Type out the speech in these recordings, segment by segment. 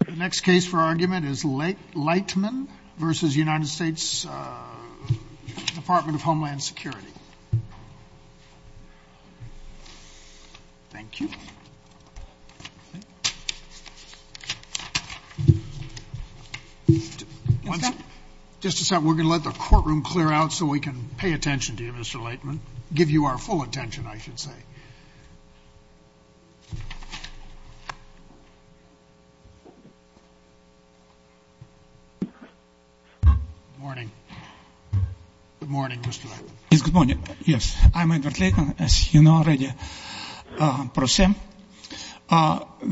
The next case for argument is Leytman v. United States Department of Homeland Security. Thank you. Just a second. We're going to let the courtroom clear out so we can pay attention to you, Mr. Leytman. Give you our full attention, I should say. Good morning. Good morning, Mr. Leytman. Yes, good morning. I'm Edward Leytman, as you know already.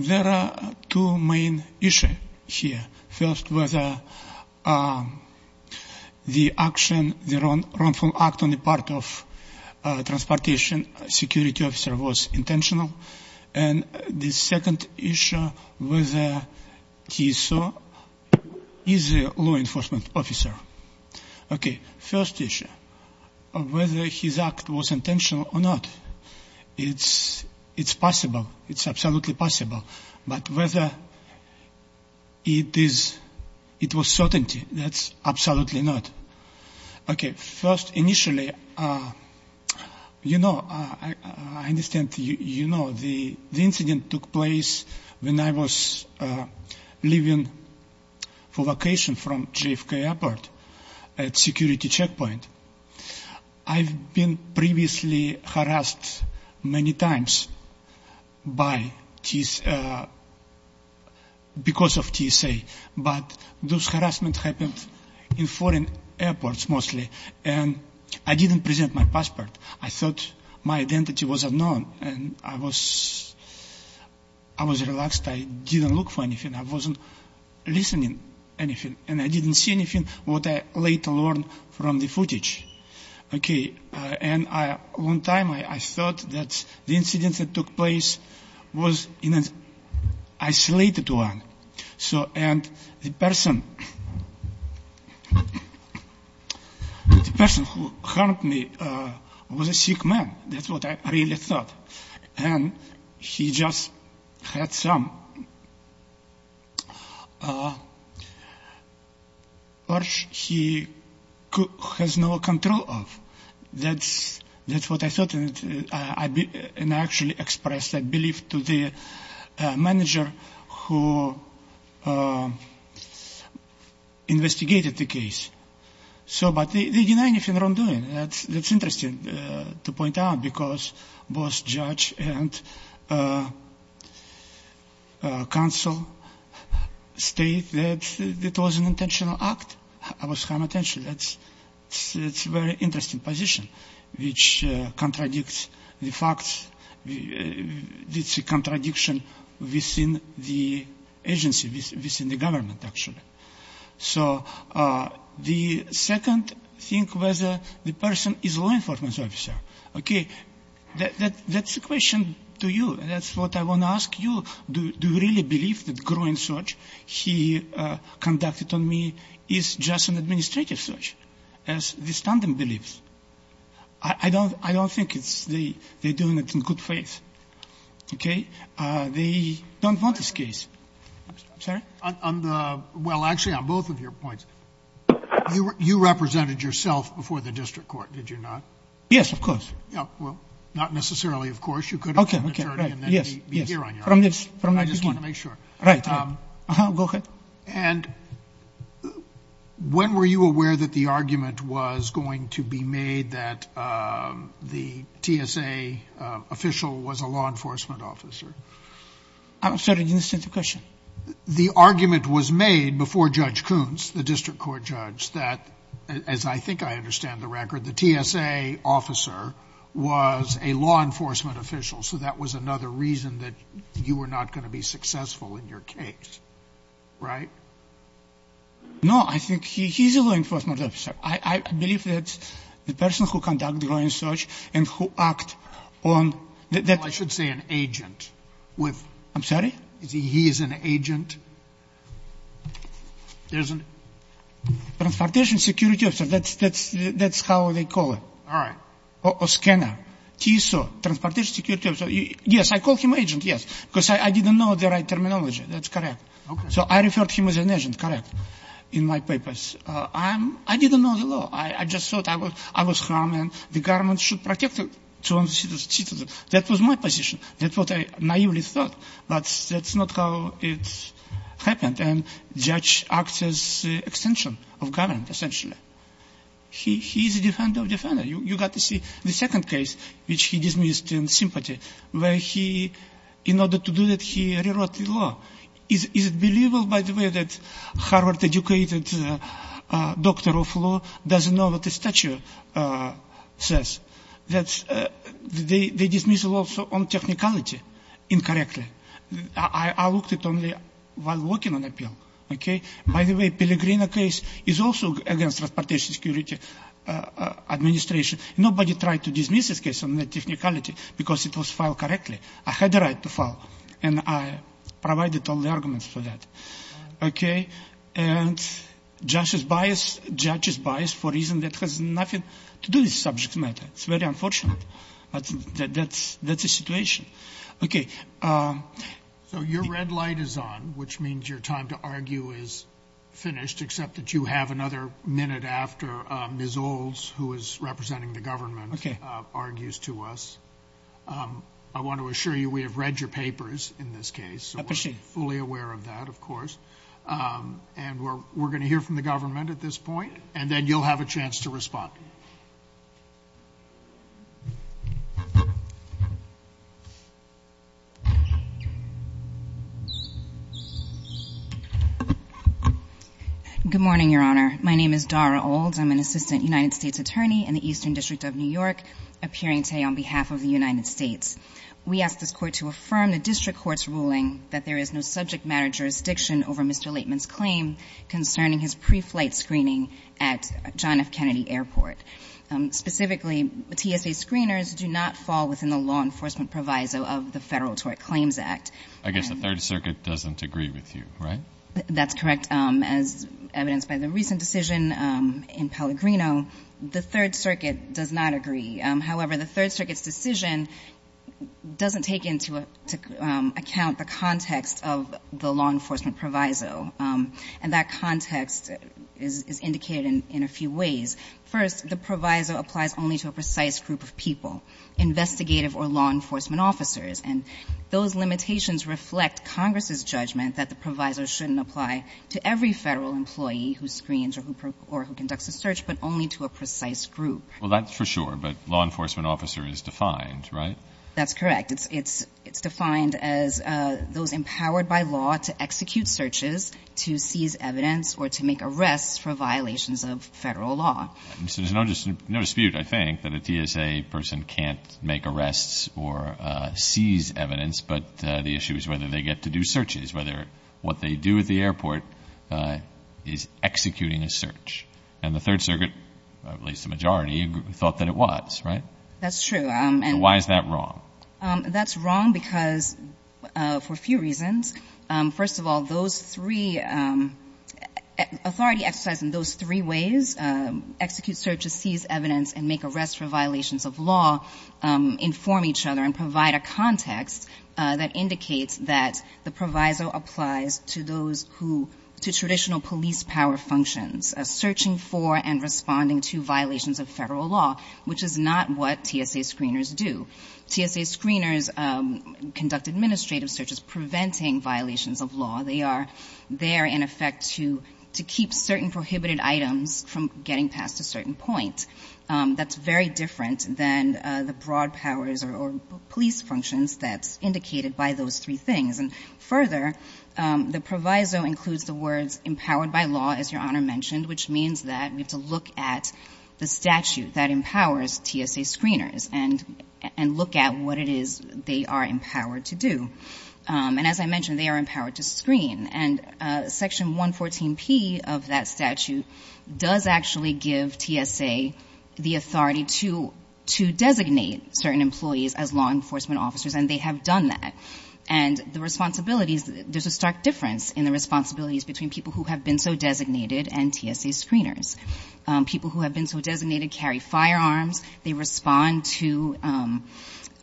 There are two main issues here. First was the action, the wrongful act on the part of transportation security officer was intentional. And the second issue was he is a law enforcement officer. Okay, first issue, whether his act was intentional or not. It's possible. It's absolutely possible. But whether it was certainty, that's absolutely not. Okay, first, initially, you know, I understand, you know, the incident took place when I was leaving for vacation from JFK airport at security checkpoint. I've been previously harassed many times because of TSA. But those harassments happened in foreign airports mostly. And I didn't present my passport. I thought my identity was unknown. And I was relaxed. I didn't look for anything. I wasn't listening anything. And I didn't see anything what I later learned from the footage. Okay, and one time I thought that the incident that took place was an isolated one. And the person who harmed me was a sick man. That's what I really thought. And he just had some urge he has no control of. That's what I thought. And I actually expressed that belief to the manager who investigated the case. So, but they deny anything that I'm doing. That's interesting to point out because both judge and counsel state that it was an intentional act. That's a very interesting position which contradicts the facts. It's a contradiction within the agency, within the government actually. So the second thing was the person is a law enforcement officer. Okay, that's a question to you. That's what I want to ask you. Do you really believe that growing search he conducted on me is just an administrative search? I don't think they're doing it in good faith. Okay, they don't want this case. Well, actually on both of your points, you represented yourself before the district court, did you not? Yes, of course. Well, not necessarily of course. I just want to make sure. Go ahead. And when were you aware that the argument was going to be made that the TSA official was a law enforcement officer? I'm sorry, I didn't understand the question. The argument was made before Judge Kuntz, the district court judge, that, as I think I understand the record, the TSA officer was a law enforcement official, so that was another reason that you were not going to be successful in your case. Right? No, I think he's a law enforcement officer. I believe that the person who conducted the growing search and who act on that — Well, I should say an agent. I'm sorry? He is an agent. He is an? Transportation security officer. That's how they call it. All right. Or scanner. TSO, transportation security officer. Yes, I call him agent, yes, because I didn't know the right terminology. That's correct. Okay. So I referred to him as an agent, correct, in my papers. I didn't know the law. I just thought I was harmed and the government should protect the citizens. That was my position. That's what I naively thought, but that's not how it happened, and judge acts as extension of government, essentially. He is a defender of defender. You got to see the second case, which he dismissed in sympathy, where he, in order to do that, he rewrote the law. Is it believable, by the way, that Harvard-educated doctor of law doesn't know what the statute says? They dismiss also on technicality, incorrectly. I looked at only while working on appeal. Okay. By the way, Pellegrino case is also against transportation security administration. Nobody tried to dismiss this case on the technicality because it was filed correctly. I had the right to file, and I provided all the arguments for that. Okay. And judge is biased for reason that has nothing to do with subject matter. It's very unfortunate, but that's the situation. Okay. So your red light is on, which means your time to argue is finished, except that you have another minute after Ms. Olds, who is representing the government, argues to us. I want to assure you we have read your papers in this case. So we're fully aware of that, of course. And we're going to hear from the government at this point, and then you'll have a chance to respond. Good morning, Your Honor. My name is Dara Olds. I'm an assistant United States attorney in the Eastern District of New York, appearing today on behalf of the United States. We ask this Court to affirm the district court's ruling that there is no subject matter jurisdiction over Mr. Laitman's claim concerning his preflight screening at John F. Kennedy Airport. Specifically, TSA screeners do not fall within the law enforcement proviso of the Federal Tort Claims Act. I guess the Third Circuit doesn't agree with you, right? That's correct. As evidenced by the recent decision in Pellegrino, the Third Circuit does not agree. However, the Third Circuit's decision doesn't take into account the context of the law enforcement proviso. And that context is indicated in a few ways. First, the proviso applies only to a precise group of people, investigative or law enforcement officers. And those limitations reflect Congress's judgment that the proviso shouldn't apply to every Federal employee who screens or who conducts a search, but only to a precise group. Well, that's for sure. But law enforcement officer is defined, right? That's correct. It's defined as those empowered by law to execute searches, to seize evidence, or to make arrests for violations of Federal law. So there's no dispute, I think, that a TSA person can't make arrests or seize evidence. But the issue is whether they get to do searches, whether what they do at the airport is executing a search. And the Third Circuit, at least the majority, thought that it was, right? That's true. And why is that wrong? That's wrong because, for a few reasons. First of all, those three, authority exercised in those three ways, execute searches, seize evidence, and make arrests for violations of law, inform each other and provide a context that indicates that the proviso applies to those who, to search for and responding to violations of Federal law, which is not what TSA screeners do. TSA screeners conduct administrative searches preventing violations of law. They are there, in effect, to keep certain prohibited items from getting past a certain point. That's very different than the broad powers or police functions that's indicated by those three things. And further, the proviso includes the words, empowered by law, as Your Honor mentioned, which means that we have to look at the statute that empowers TSA screeners and look at what it is they are empowered to do. And as I mentioned, they are empowered to screen. And Section 114P of that statute does actually give TSA the authority to designate certain employees as law enforcement officers, and they have done that. And the responsibilities, there's a stark difference in the responsibilities between people who have been so designated and TSA screeners. People who have been so designated carry firearms. They respond to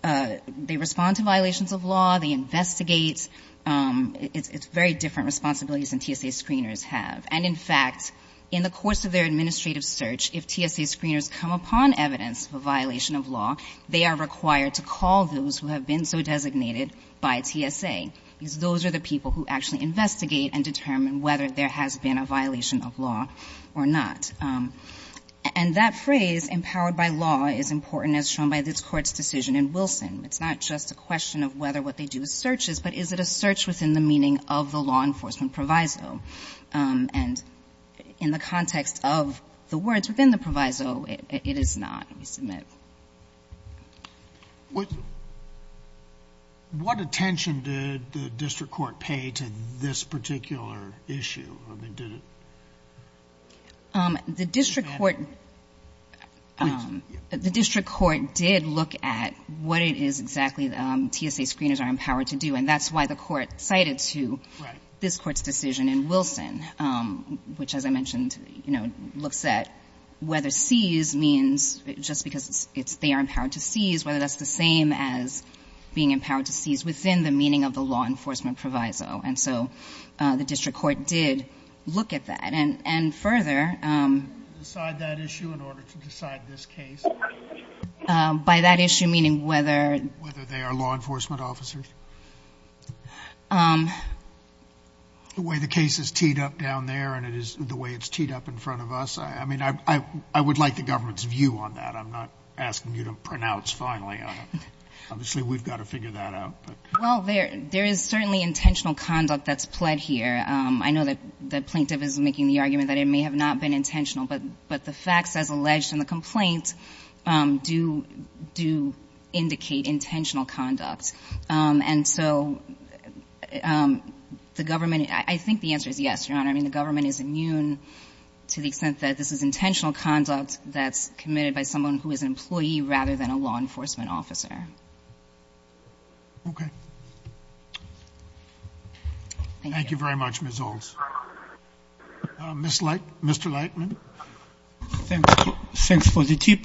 violations of law. They investigate. It's very different responsibilities than TSA screeners have. And in fact, in the course of their administrative search, if TSA screeners come upon evidence of a violation of law, they are required to call those who have been so designated by TSA, because those are the people who actually investigate and determine whether there has been a violation of law or not. And that phrase, empowered by law, is important as shown by this Court's decision in Wilson. It's not just a question of whether what they do is searches, but is it a search within the meaning of the law enforcement proviso? And in the context of the words within the proviso, it is not, we submit. What attention did the district court pay to this particular issue? I mean, did it? The district court did look at what it is exactly TSA screeners are empowered to do. And that's why the court cited to this Court's decision in Wilson, which, as I mentioned, looks at whether seize means, just because they are empowered to seize, whether that's the same as being empowered to seize within the meaning of the law enforcement proviso. And so the district court did look at that. And further by that issue, meaning whether they are law enforcement officers. The way the case is teed up down there and the way it's teed up in front of us, I mean, I would like the government's view on that. I'm not asking you to pronounce finally on it. Obviously, we've got to figure that out. Well, there is certainly intentional conduct that's pled here. I know that Plaintiff is making the argument that it may have not been intentional, but the facts as alleged in the complaint do indicate intentional conduct. And so the government, I think the answer is yes, Your Honor. I mean, the government is immune to the extent that this is intentional conduct that's committed by someone who is an employee rather than a law enforcement officer. Okay. Thank you. Thank you very much, Ms. Olds. Mr. Lightman. Thanks for the tip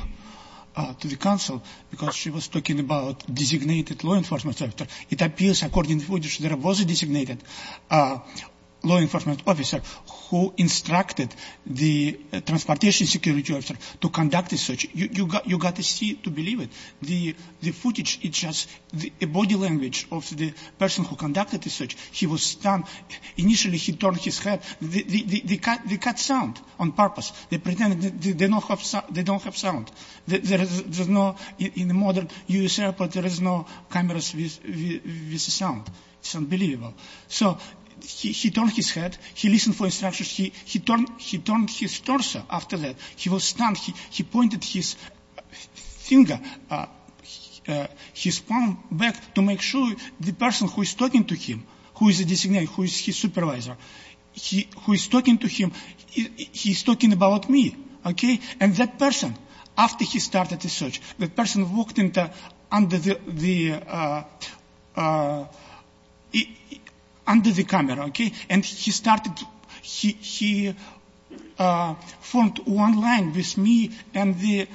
to the counsel, because she was talking about designated law enforcement officer. It appears according to the footage there was a designated law enforcement officer who instructed the transportation security officer to conduct the search. You've got to see it to believe it. The footage is just the body language of the person who conducted the search. He was stunned. Initially, he turned his head. They cut sound on purpose. They pretended they don't have sound. In the modern U.S. airport, there is no cameras with sound. It's unbelievable. So he turned his head. He listened for instructions. He turned his torso after that. He was stunned. He pointed his finger, his palm back to make sure the person who is talking to him, who is the designated, who is his supervisor, who is talking to him, he's talking about me, okay? And that person, after he started the search, that person walked under the camera, okay? And he formed one line with me and the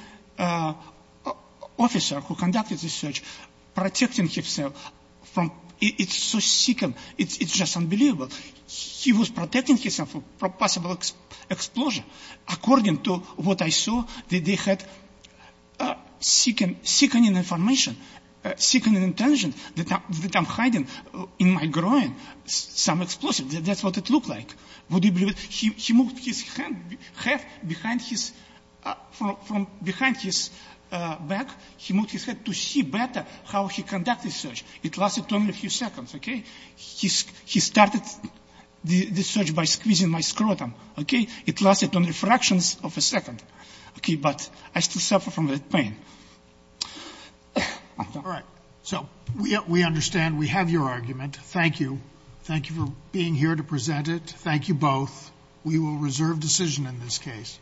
officer who conducted the search, protecting himself. It's so sickening. It's just unbelievable. He was protecting himself from possible explosion according to what I saw that they had sickening information, sickening intention that I'm hiding in my groin some explosive. That's what it looked like. Would you believe it? He moved his head behind his back. He moved his head to see better how he conducted search. It lasted only a few seconds, okay? He started the search by squeezing my scrotum, okay? It lasted only fractions of a second, okay? But I still suffer from that pain. All right. So we understand. We have your argument. Thank you. Thank you for being here to present it. Thank you both. We will reserve decision in this case.